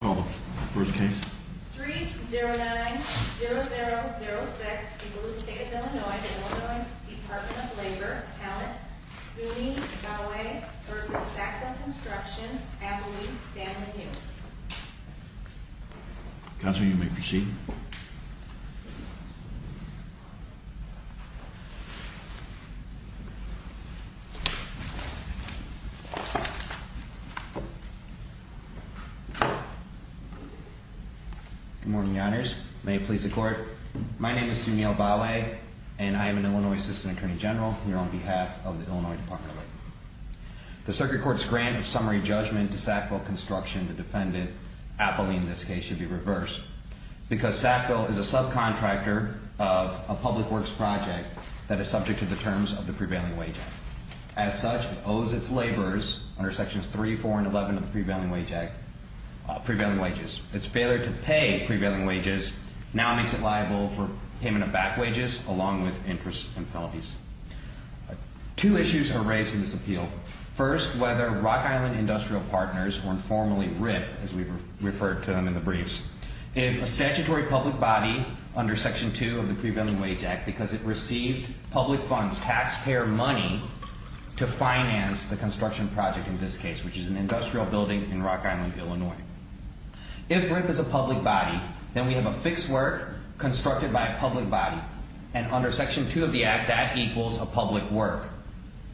3-0-9-0-0-0-6, Illinois Department of Labor, Sunni-Galway v. Sackville Construction, Appalachian-Stanley-Newton Good morning, Your Honors. May it please the Court. My name is Sunil Balwe, and I am an Illinois Assistant Attorney General here on behalf of the Illinois Department of Labor. The Circuit Court's grant of summary judgment to Sackville Construction, the defendant, Appalachian in this case, should be reversed because Sackville is a subcontractor of a public works project that is subject to the terms of the Prevailing Wage Act. As such, it owes its laborers under Sections 3, 4, and 11 of the Prevailing Wages. Its failure to pay Prevailing Wages now makes it liable for payment of back wages along with interest and penalties. Two issues are raised in this appeal. First, whether Rock Island Industrial Partners were informally ripped, as we've referred to them in the briefs, is a statutory public body under Section 2 of the Prevailing Wage Act because it received public funds, taxpayer money, to finance the construction project in this case, which is an industrial building in Rock Island, Illinois. If RIP is a public body, then we have a fixed work constructed by a public body, and under Section 2 of the Act, that equals a public work,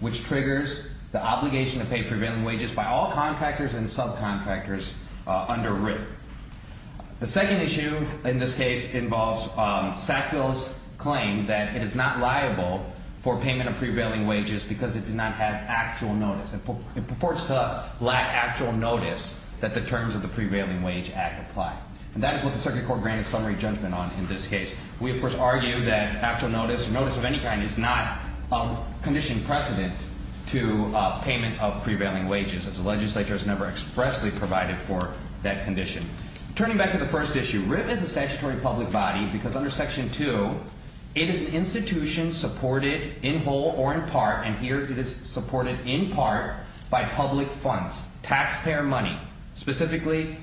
which triggers the obligation to pay Prevailing Wages by all contractors and subcontractors under RIP. The second issue in this case involves Sackville's claim that it is not liable for payment of Prevailing Wages because it did not have actual notice. It purports to lack actual notice that the terms of the Prevailing Wage Act apply. And that is what the Circuit Court granted summary judgment on in this case. We, of course, argue that actual notice or notice of any kind is not a condition precedent to payment of Prevailing Wages as the legislature has never expressly provided for that condition. Turning back to the first issue, RIP is a statutory public body because under Section 2, it is an institution supported in whole or in part, and here it is supported in part by public funds, taxpayer money. Specifically,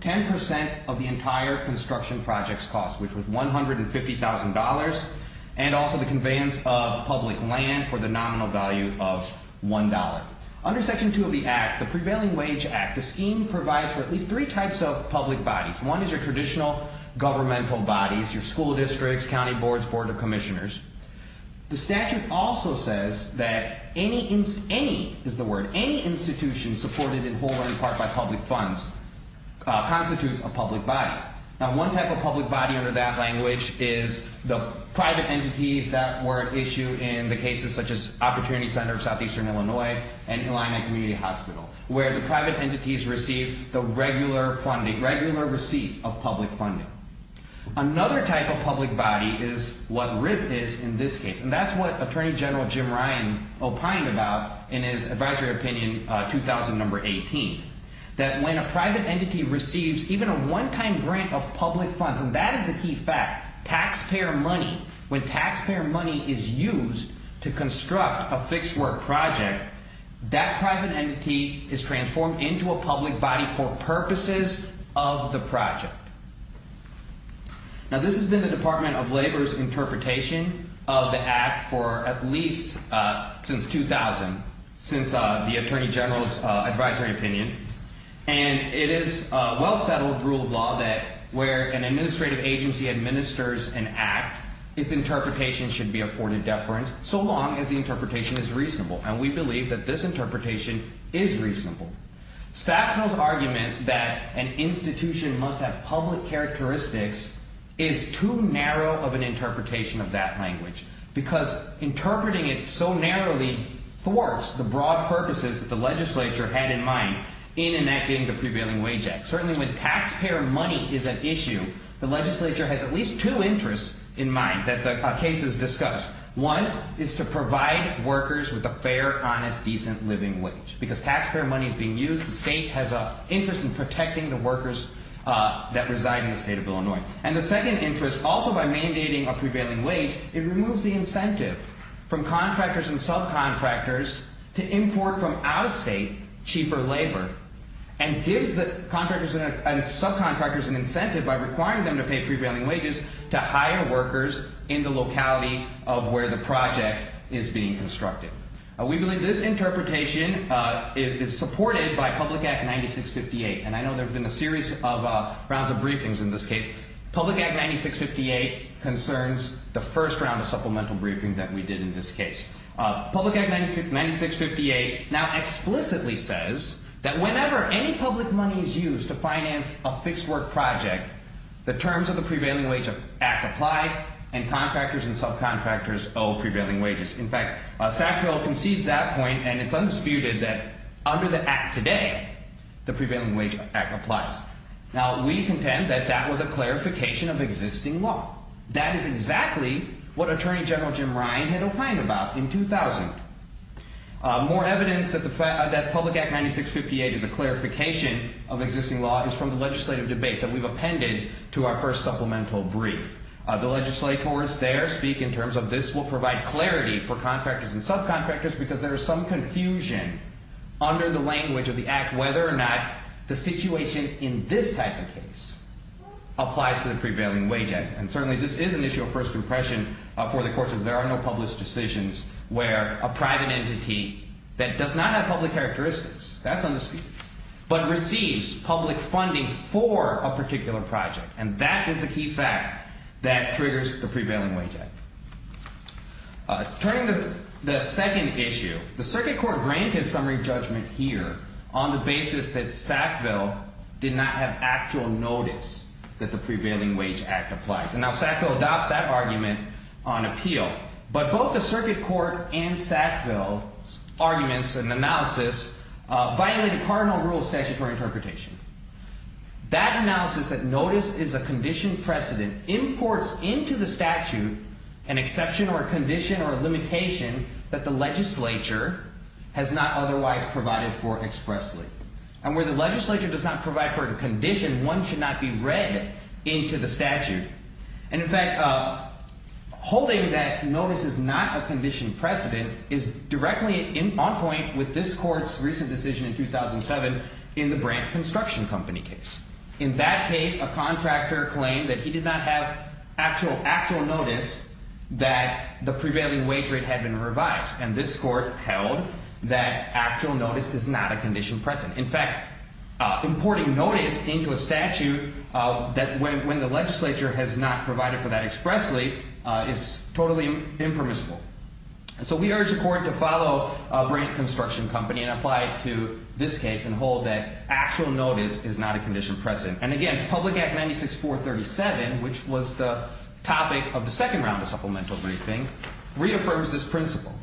10% of the entire construction project's cost, which was $150,000, and also the conveyance of public land for the nominal value of $1. Under Section 2 of the Act, the Prevailing Wage Act, the scheme provides for at least three types of public bodies. One is your traditional governmental bodies, your school districts, county boards, board of commissioners. The statute also says that any institution supported in whole or in part by public funds constitutes a public body. Now, one type of public body under that language is the private entities that were at issue in the cases such as Opportunity Center of Southeastern Illinois and Illini Community Hospital, where the private entities receive the regular funding, regular receipt of public funding. Another type of public body is what RIP is in this case, and that's what Attorney General Jim Ryan opined about in his advisory opinion, 2000, number 18, that when a private entity receives even a one-time grant of public funds, and that is the key fact, taxpayer money, when taxpayer money is used to construct a fixed work project, that private entity is transformed into a public body for purposes of the project. Now, this has been the Department of Labor's interpretation of the Act for at least since 2000, since the Attorney General's advisory opinion, and it is a well-settled rule of law that where an administrative agency administers an act, its interpretation should be afforded deference so long as the interpretation is reasonable, and we believe that this interpretation is reasonable. Sackville's argument that an institution must have public characteristics is too narrow of an interpretation of that language because interpreting it so narrowly thwarts the broad purposes that the legislature had in mind in enacting the Prevailing Wage Act. Certainly when taxpayer money is at issue, the legislature has at least two interests in mind that the case is discussed. One is to provide workers with a fair, honest, decent living wage because taxpayer money is being used. The state has an interest in protecting the workers that reside in the state of Illinois. And the second interest, also by mandating a prevailing wage, it removes the incentive from contractors and subcontractors to import from out-of-state cheaper labor and gives the contractors and subcontractors an incentive by requiring them to pay prevailing wages to hire workers in the locality of where the project is being constructed. We believe this interpretation is supported by Public Act 9658, and I know there have been a series of rounds of briefings in this case. Public Act 9658 concerns the first round of supplemental briefing that we did in this case. Public Act 9658 now explicitly says that whenever any public money is used to finance a fixed-work project, the terms of the Prevailing Wage Act apply, and contractors and subcontractors owe prevailing wages. In fact, Sackville concedes that point, and it's undisputed that under the Act today, the Prevailing Wage Act applies. Now, we contend that that was a clarification of existing law. That is exactly what Attorney General Jim Ryan had opined about in 2000. More evidence that Public Act 9658 is a clarification of existing law is from the legislative debates that we've appended to our first supplemental brief. The legislators there speak in terms of this will provide clarity for contractors and subcontractors because there is some confusion under the language of the Act whether or not the situation in this type of case applies to the Prevailing Wage Act. And certainly, this is an issue of first impression for the courts, and there are no published decisions where a private entity that does not have public characteristics, that's undisputed, but receives public funding for a particular project, and that is the key fact that triggers the Prevailing Wage Act. Turning to the second issue, the Circuit Court granted summary judgment here on the basis that Sackville did not have actual notice that the Prevailing Wage Act applies, and now Sackville adopts that argument on appeal. But both the Circuit Court and Sackville's arguments and analysis violate a cardinal rule of statutory interpretation. That analysis that notice is a conditioned precedent imports into the statute an exception or a condition or a limitation that the legislature has not otherwise provided for expressly. And where the legislature does not provide for a condition, one should not be read into the statute. And in fact, holding that notice is not a conditioned precedent is directly on point with this court's recent decision in 2007 in the Brandt Construction Company case. In that case, a contractor claimed that he did not have actual notice that the prevailing wage rate had been revised, and this court held that actual notice is not a conditioned precedent. In fact, importing notice into a statute when the legislature has not provided for that expressly is totally impermissible. And so we urge the court to follow Brandt Construction Company and apply it to this case and hold that actual notice is not a conditioned precedent. And again, Public Act 96-437, which was the topic of the second round of supplemental briefing, reaffirms this principle.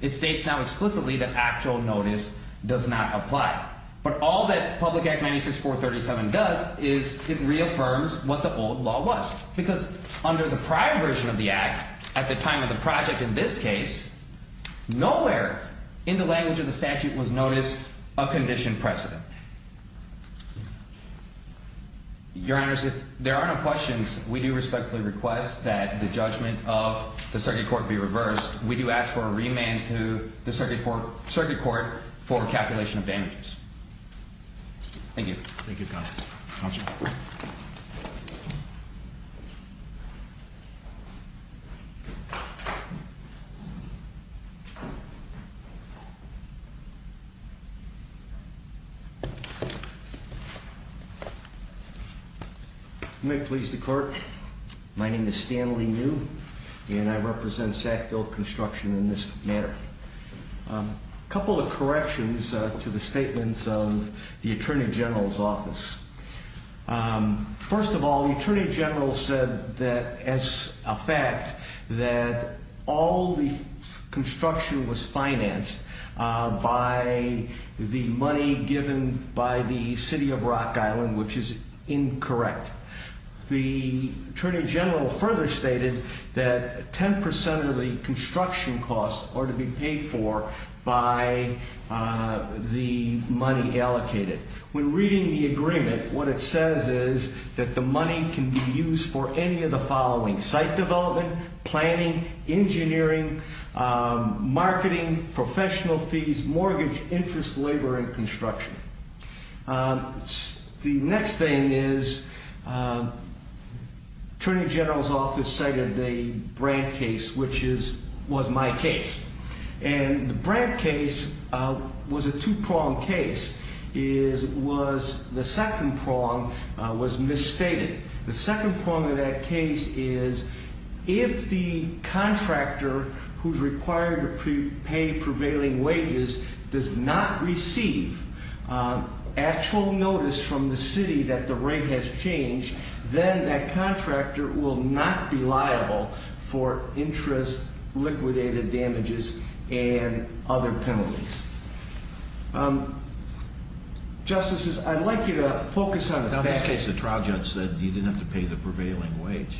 It states now explicitly that actual notice does not apply. But all that Public Act 96-437 does is it reaffirms what the old law was. Because under the prior version of the Act, at the time of the project in this case, nowhere in the language of the statute was notice a conditioned precedent. Your Honors, if there are no questions, we do respectfully request that the judgment of the circuit court be reversed. We do ask for a remand to the circuit court for calculation of damages. Thank you. Thank you, Counsel. Counsel. You may please the court. My name is Stanley New, and I represent Sackville Construction in this matter. A couple of corrections to the statements of the Attorney General's office. First of all, the Attorney General said that as a fact that all the construction was financed by the money given by the City of Rock Island, which is incorrect. The Attorney General further stated that 10% of the construction costs are to be paid for by the money allocated. When reading the agreement, what it says is that the money can be used for any of the following. Site development, planning, engineering, marketing, professional fees, mortgage, interest, labor, and construction. The next thing is Attorney General's office cited the Brandt case, which was my case. And the Brandt case was a two-pronged case. The second prong was misstated. The second prong of that case is if the contractor who's required to pay prevailing wages does not receive actual notice from the city that the rate has changed, then that contractor will not be liable for interest, liquidated damages, and other penalties. Justices, I'd like you to focus on the facts. In this case, the trial judge said you didn't have to pay the prevailing wage.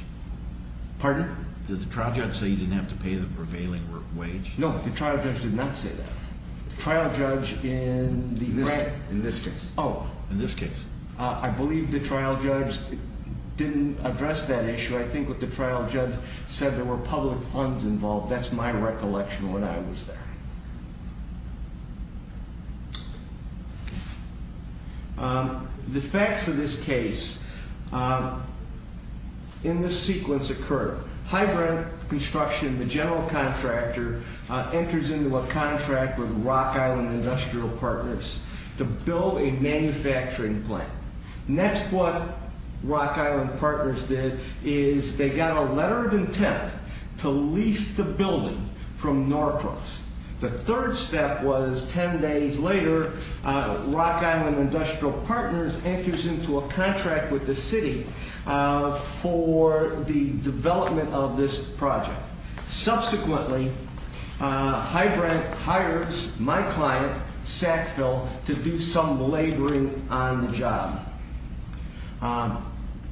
Pardon? Did the trial judge say you didn't have to pay the prevailing wage? No, the trial judge did not say that. The trial judge in this case. Oh. In this case. I believe the trial judge didn't address that issue. I think what the trial judge said, there were public funds involved. That's my recollection when I was there. The facts of this case in this sequence occur. Hybrid Construction, the general contractor, enters into a contract with Rock Island Industrial Partners to build a manufacturing plant. Next, what Rock Island Partners did is they got a letter of intent to lease the building from Norcross. The third step was ten days later, Rock Island Industrial Partners enters into a contract with the city for the development of this project. Subsequently, Hybrant hires my client, Sackville, to do some laboring on the job.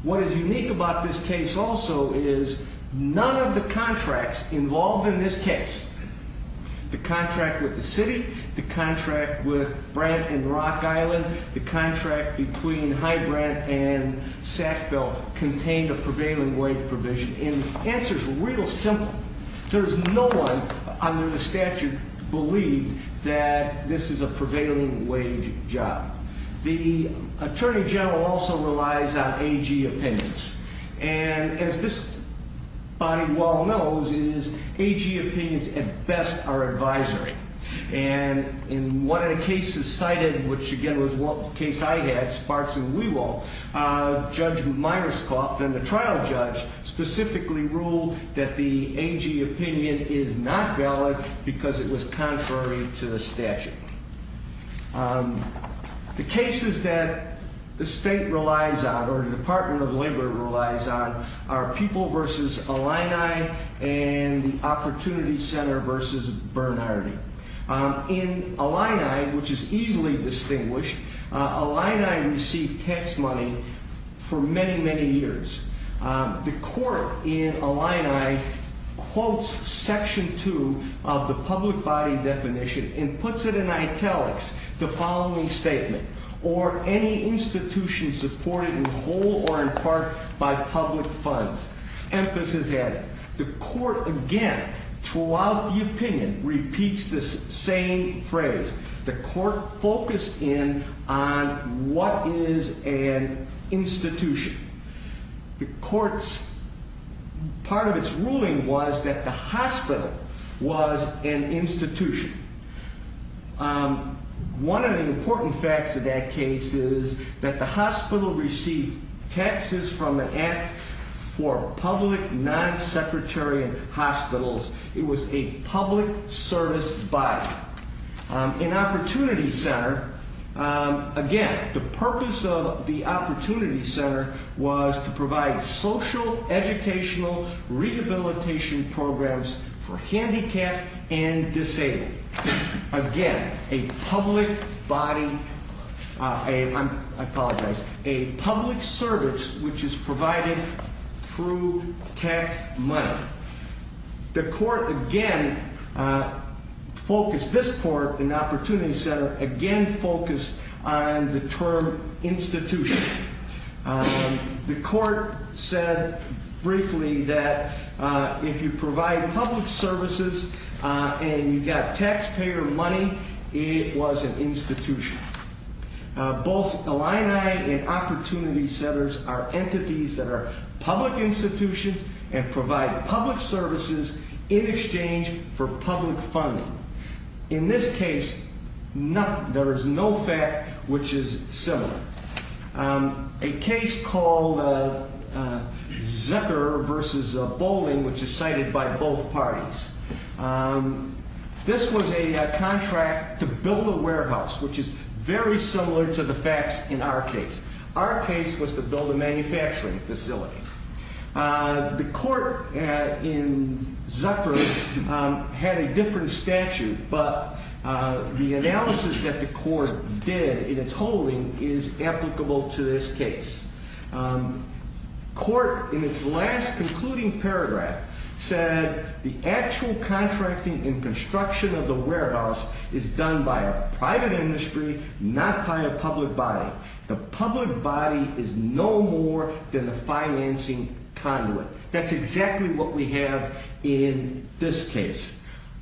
What is unique about this case also is none of the contracts involved in this case, the contract with the city, the contract with Brant and Rock Island, the contract between Hybrant and Sackville, contained a prevailing wage provision. And the answer is real simple. There is no one under the statute believed that this is a prevailing wage job. The attorney general also relies on AG opinions. And as this body well knows, it is AG opinions at best are advisory. And in one of the cases cited, which again was the case I had, Sparks and Weevil, Judge Myerscough, then the trial judge, specifically ruled that the AG opinion is not valid because it was contrary to the statute. The cases that the state relies on or the Department of Labor relies on are People v. Illini and the Opportunity Center v. Bernardi. In Illini, which is easily distinguished, Illini received tax money for many, many years. The court in Illini quotes section two of the public body definition and puts it in italics, the following statement, or any institution supported in whole or in part by public funds. Emphasis added. The court again, throughout the opinion, repeats this same phrase. The court focused in on what is an institution. The court's, part of its ruling was that the hospital was an institution. One of the important facts of that case is that the hospital received taxes from an act for public non-secretarian hospitals. It was a public service body. In Opportunity Center, again, the purpose of the Opportunity Center was to provide social educational rehabilitation programs for handicapped and disabled. Again, a public body, I apologize, a public service which is provided through tax money. The court again focused, this court in Opportunity Center, again focused on the term institution. The court said briefly that if you provide public services and you got taxpayer money, it was an institution. Both Illini and Opportunity Centers are entities that are public institutions and provide public services in exchange for public funding. In this case, there is no fact which is similar. A case called Zucker versus Bowling, which is cited by both parties. This was a contract to build a warehouse, which is very similar to the facts in our case. Our case was to build a manufacturing facility. The court in Zucker had a different statute, but the analysis that the court did in its holding is applicable to this case. Court in its last concluding paragraph said the actual contracting and construction of the warehouse is done by a private industry, not by a public body. The public body is no more than the financing conduit. That's exactly what we have in this case.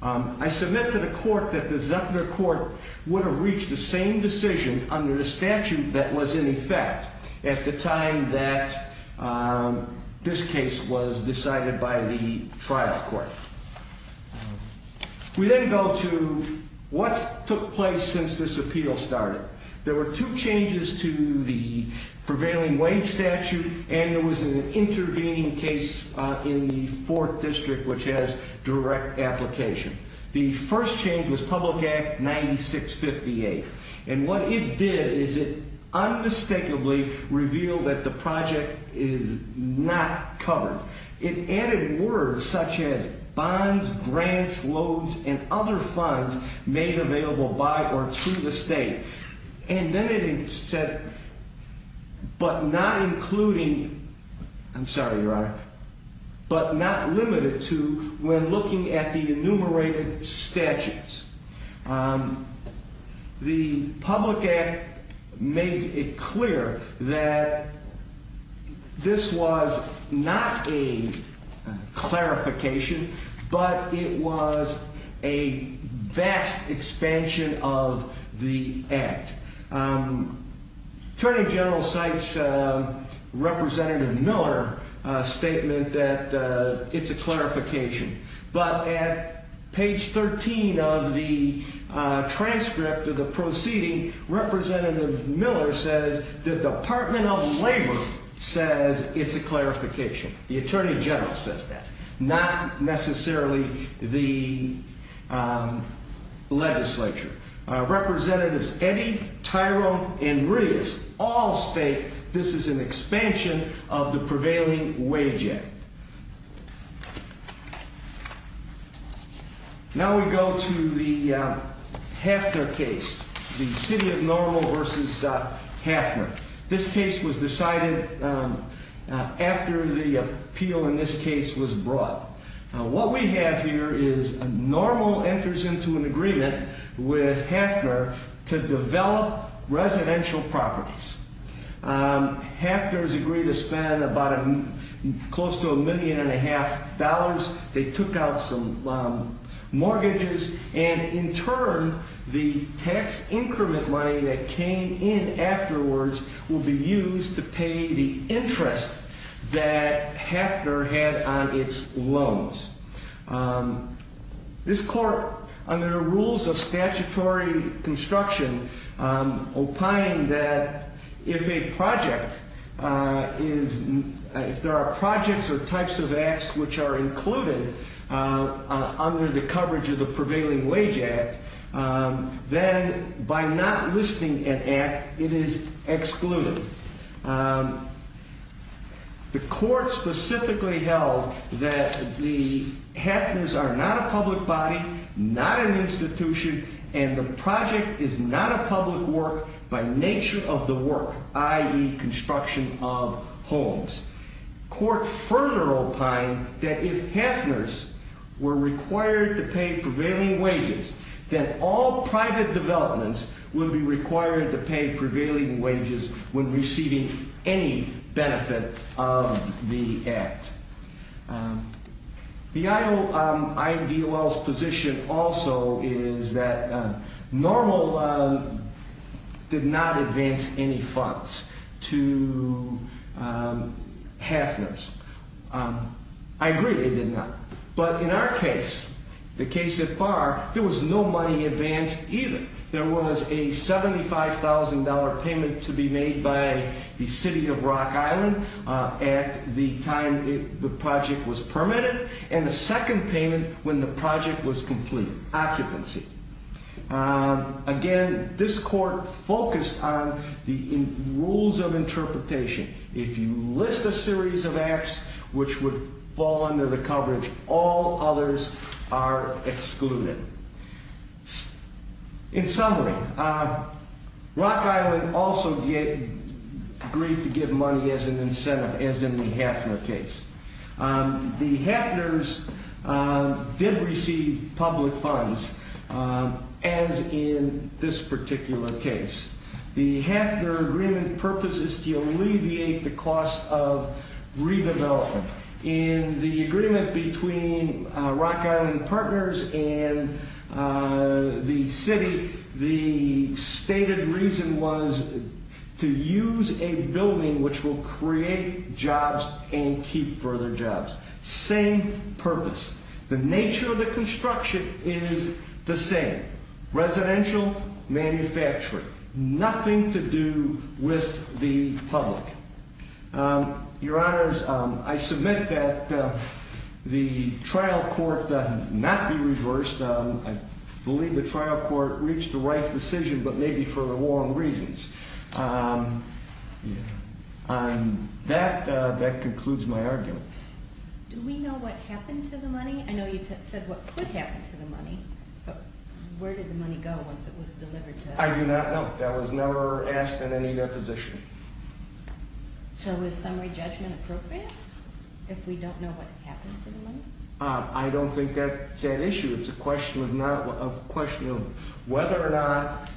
I submit to the court that the Zucker court would have reached the same decision under the statute that was in effect at the time that this case was decided by the trial court. We then go to what took place since this appeal started. There were two changes to the prevailing Wayne statute, and there was an intervening case in the fourth district, which has direct application. The first change was Public Act 9658, and what it did is it unmistakably revealed that the project is not covered. It added words such as bonds, grants, loads, and other funds made available by or to the state. And then it said, but not including, I'm sorry, Your Honor, but not limited to when looking at the enumerated statutes. The public act made it clear that this was not a clarification, but it was a vast expansion of the act. Attorney General cites Representative Miller's statement that it's a clarification, but at page 13 of the transcript of the proceeding, Representative Miller says the Department of Labor says it's a clarification. The Attorney General says that, not necessarily the legislature. Representatives Eddy, Tyrone, and Rios all state this is an expansion of the prevailing wage act. Now we go to the Hafner case, the City of Normal versus Hafner. This case was decided after the appeal in this case was brought. Now what we have here is Normal enters into an agreement with Hafner to develop residential properties. Hafner has agreed to spend close to a million and a half dollars. They took out some mortgages, and in turn, the tax increment money that came in afterwards will be used to pay the interest that Hafner had on its loans. This court, under the rules of statutory construction, opined that if a project, if there are projects or types of acts which are included under the coverage of the prevailing wage act, then by not listing an act, it is excluded. The court specifically held that the Hafners are not a public body, not an institution, and the project is not a public work by nature of the work, i.e. construction of homes. Court further opined that if Hafners were required to pay prevailing wages, then all private developments would be required to pay prevailing wages when receiving any benefit of the act. The IMDOL's position also is that Normal did not advance any funds to Hafners. I agree they did not. But in our case, the case so far, there was no money advanced either. There was a $75,000 payment to be made by the City of Rock Island at the time the project was permitted, and a second payment when the project was complete, occupancy. Again, this court focused on the rules of interpretation. If you list a series of acts which would fall under the coverage, all others are excluded. In summary, Rock Island also agreed to give money as an incentive, as in the Hafner case. The Hafners did receive public funds, as in this particular case. The Hafner agreement's purpose is to alleviate the cost of redevelopment. In the agreement between Rock Island Partners and the City, the stated reason was to use a building which will create jobs and keep further jobs. Same purpose. The nature of the construction is the same. Residential, manufacturing. Nothing to do with the public. Your Honors, I submit that the trial court does not be reversed. I believe the trial court reached the right decision, but maybe for the wrong reasons. That concludes my argument. Do we know what happened to the money? I know you said what could happen to the money, but where did the money go once it was delivered to us? I do not know. That was never asked in any deposition. So is summary judgment appropriate if we don't know what happened to the money? I don't think that's an issue. It's a question of whether or not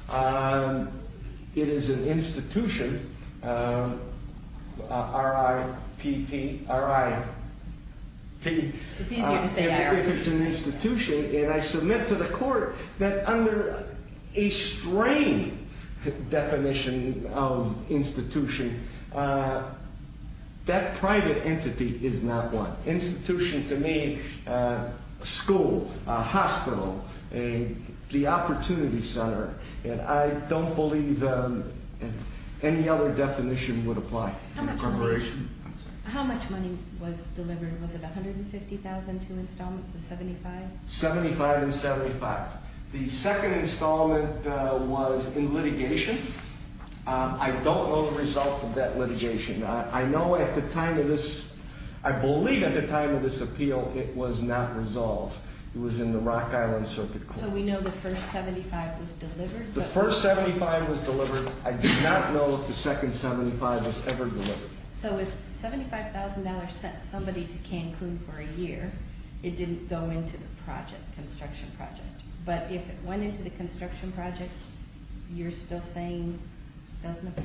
it is an institution, R-I-P-P, R-I-P. It's easier to say R. And I submit to the court that under a strange definition of institution, that private entity is not one. Institution to me, a school, a hospital, the opportunity center. I don't believe any other definition would apply. How much money was delivered? Was it $150,000 to installments of $75,000? $75,000 and $75,000. The second installment was in litigation. I don't know the result of that litigation. I know at the time of this, I believe at the time of this appeal, it was not resolved. It was in the Rock Island Circuit Court. So we know the first $75,000 was delivered? The first $75,000 was delivered. I do not know if the second $75,000 was ever delivered. So if $75,000 sent somebody to Cancun for a year, it didn't go into the project, construction project. But if it went into the construction project, you're still saying it doesn't apply?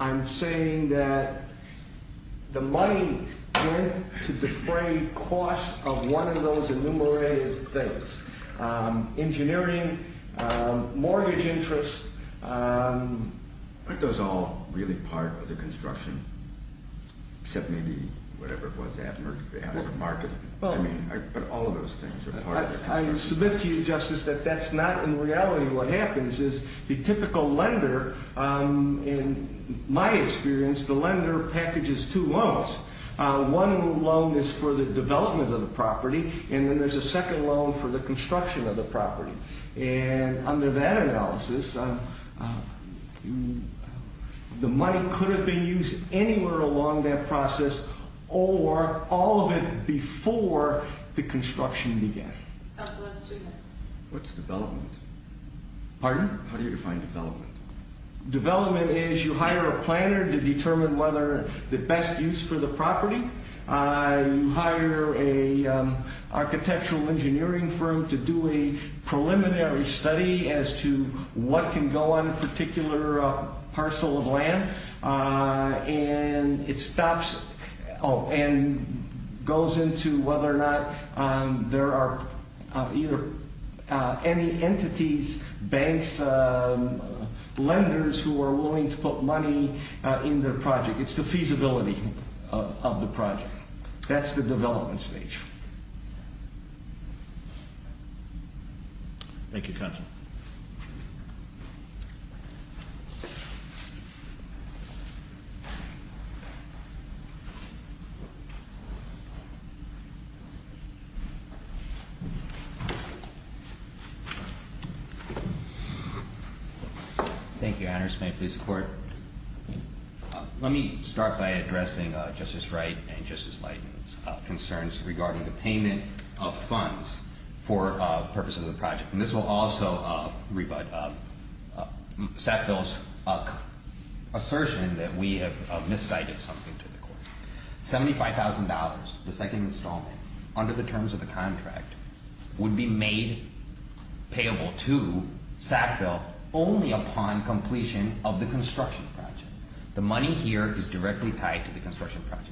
I'm saying that the money went to defray costs of one of those enumerated things. Engineering, mortgage interest. Aren't those all really part of the construction? Except maybe whatever it was out of the market. But all of those things are part of the construction. I submit to you, Justice, that that's not in reality what happens. The typical lender, in my experience, the lender packages two loans. One loan is for the development of the property. And then there's a second loan for the construction of the property. And under that analysis, the money could have been used anywhere along that process or all of it before the construction began. What's development? Pardon? How do you define development? Development is you hire a planner to determine whether the best use for the property. You hire an architectural engineering firm to do a preliminary study as to what can go on a particular parcel of land. And it goes into whether or not there are any entities, banks, lenders who are willing to put money in their project. It's the feasibility of the project. That's the development stage. Thank you, Counsel. Thank you, Your Honors. May I please have the Court? Let me start by addressing Justice Wright and Justice Leighton's concerns regarding the payment of funds for purposes of the project. And this will also rebut Sackville's assertion that we have miscited something to the Court. $75,000, the second installment, under the terms of the contract, would be made payable to Sackville only upon completion of the construction project. The money here is directly tied to the construction project.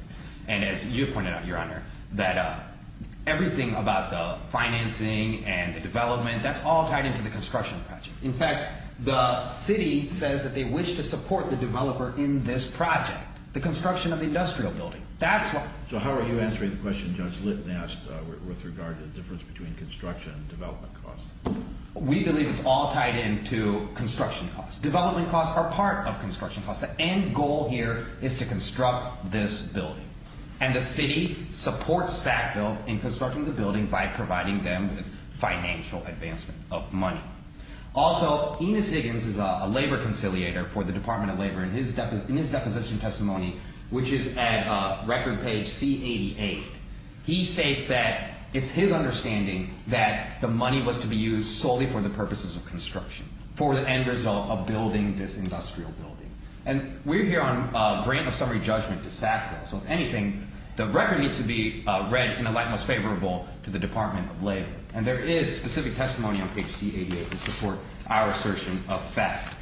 And as you pointed out, Your Honor, that everything about the financing and the development, that's all tied into the construction project. In fact, the City says that they wish to support the developer in this project, the construction of the industrial building. So how are you answering the question Judge Leighton asked with regard to the difference between construction and development costs? We believe it's all tied into construction costs. Development costs are part of construction costs. And the City supports Sackville in constructing the building by providing them with financial advancement of money. Also, Enos Higgins is a labor conciliator for the Department of Labor. In his deposition testimony, which is at record page C88, he states that it's his understanding that the money was to be used solely for the purposes of construction, for the end result of building this industrial building. And we're here on a grant of summary judgment to Sackville. So if anything, the record needs to be read in a light most favorable to the Department of Labor. And there is specific testimony on page C88 to support our assertion of fact.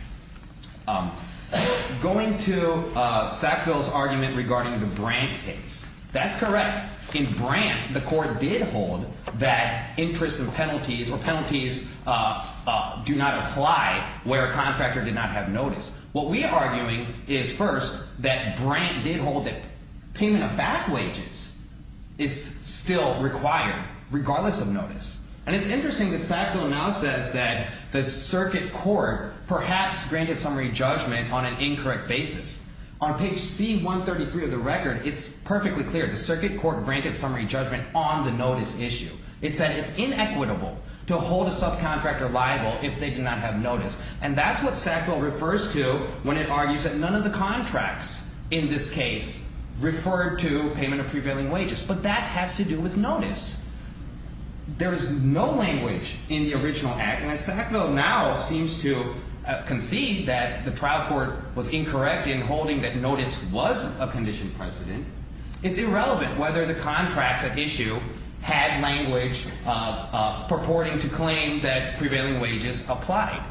Going to Sackville's argument regarding the Brandt case, that's correct. In Brandt, the court did hold that interest and penalties or penalties do not apply where a contractor did not have notice. What we are arguing is, first, that Brandt did hold that payment of back wages is still required regardless of notice. And it's interesting that Sackville now says that the circuit court perhaps granted summary judgment on an incorrect basis. On page C133 of the record, it's perfectly clear. The circuit court granted summary judgment on the notice issue. It said it's inequitable to hold a subcontractor liable if they did not have notice. And that's what Sackville refers to when it argues that none of the contracts in this case referred to payment of prevailing wages. But that has to do with notice. There is no language in the original act. And as Sackville now seems to concede that the trial court was incorrect in holding that notice was a conditioned precedent, it's irrelevant whether the contracts at issue had language purporting to claim that prevailing wages applied.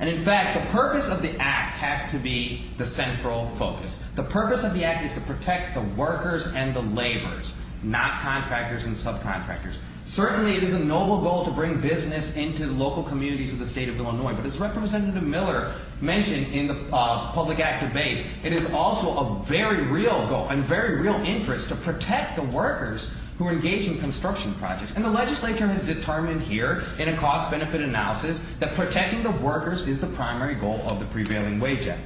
And in fact, the purpose of the act has to be the central focus. The purpose of the act is to protect the workers and the laborers, not contractors and subcontractors. Certainly, it is a noble goal to bring business into the local communities of the state of Illinois. But as Representative Miller mentioned in the public act debate, it is also a very real goal and very real interest to protect the workers who engage in construction projects. And the legislature has determined here in a cost-benefit analysis that protecting the workers is the primary goal of the prevailing wage act.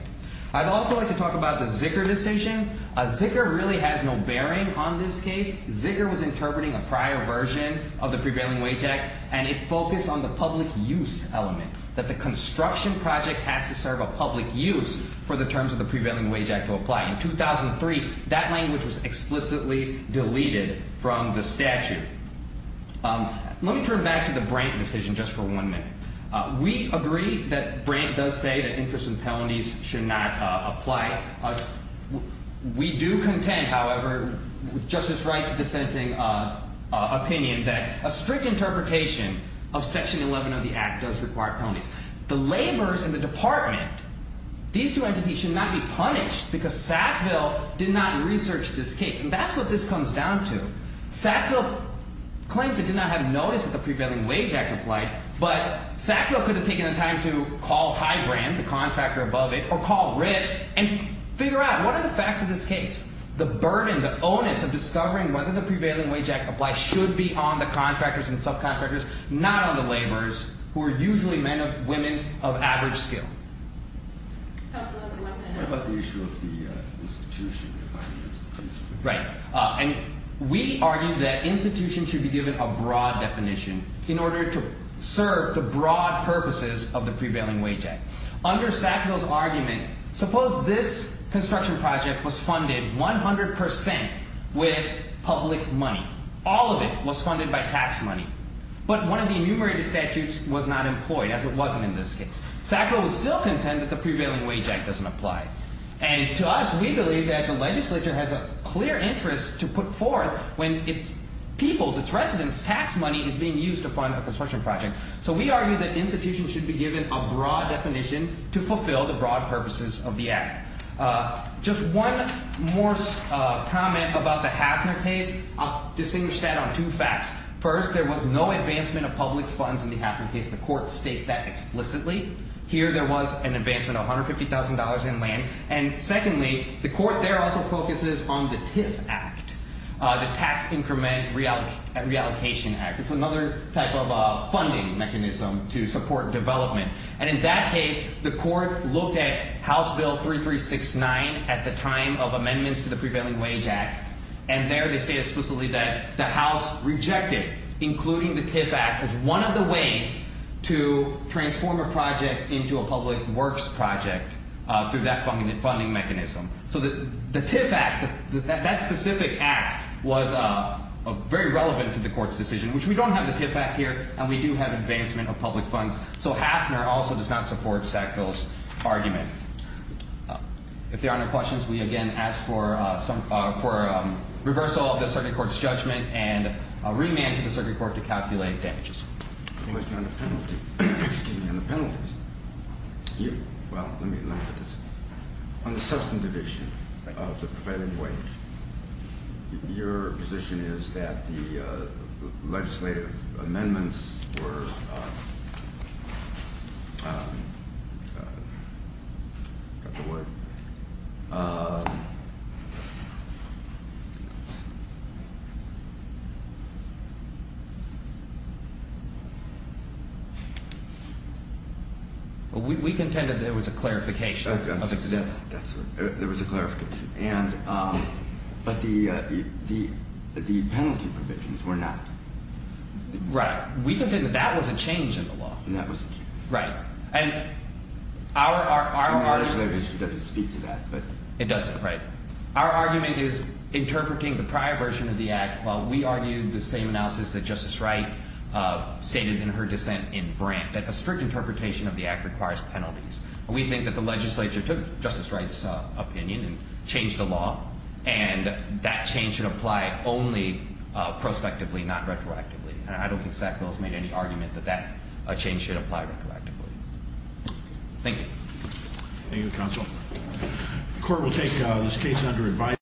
I'd also like to talk about the Zicker decision. Zicker really has no bearing on this case. Zicker was interpreting a prior version of the prevailing wage act. And it focused on the public use element, that the construction project has to serve a public use for the terms of the prevailing wage act to apply. In 2003, that language was explicitly deleted from the statute. Let me turn back to the Brant decision just for one minute. We agree that Brant does say that interest and penalties should not apply. We do contend, however, with Justice Wright's dissenting opinion that a strict interpretation of section 11 of the act does require penalties. The laborers in the department, these two entities should not be punished because Sackville did not research this case. And that's what this comes down to. Sackville claims it did not have notice that the prevailing wage act applied. But Sackville could have taken the time to call Highbrand, the contractor above it, or call RIT and figure out what are the facts of this case. The burden, the onus of discovering whether the prevailing wage act applies should be on the contractors and subcontractors, not on the laborers who are usually men or women of average skill. What about the issue of the institution? Right. And we argue that institutions should be given a broad definition in order to serve the broad purposes of the prevailing wage act. Under Sackville's argument, suppose this construction project was funded 100% with public money. All of it was funded by tax money. But one of the enumerated statutes was not employed, as it wasn't in this case. Sackville would still contend that the prevailing wage act doesn't apply. And to us, we believe that the legislature has a clear interest to put forth when its people's, its residents' tax money is being used to fund a construction project. So we argue that institutions should be given a broad definition to fulfill the broad purposes of the act. Just one more comment about the Hafner case. I'll distinguish that on two facts. First, there was no advancement of public funds in the Hafner case. The court states that explicitly. Here there was an advancement of $150,000 in land. And secondly, the court there also focuses on the TIF Act, the Tax Increment Reallocation Act. It's another type of funding mechanism to support development. And in that case, the court looked at House Bill 3369 at the time of amendments to the prevailing wage act. And there they say explicitly that the House rejected including the TIF Act as one of the ways to transform a project into a public works project through that funding mechanism. So the TIF Act, that specific act was very relevant to the court's decision, which we don't have the TIF Act here, and we do have advancement of public funds. So Hafner also does not support Sackville's argument. If there are no questions, we again ask for reversal of the circuit court's judgment and a remand to the circuit court to calculate damages. On the penalty, excuse me, on the penalties. Well, let me look at this. On the substantive issue of the prevailing wage. Your position is that the legislative amendments were. Got the word. Well, we contended there was a clarification of this. There was a clarification. And but the the the penalty provisions were not. Right. We didn't. That was a change in the law. And that was right. And our argument is that it speaks to that. But it doesn't. Right. Our argument is interpreting the prior version of the act. While we argue the same analysis that Justice Wright stated in her dissent in Brandt, that a strict interpretation of the act requires penalties. We think that the legislature took Justice Wright's opinion and changed the law. And that change should apply only prospectively, not retroactively. And I don't think Sackville's made any argument that that change should apply retroactively. Thank you. Thank you, Counsel. The court will take this case under advisory.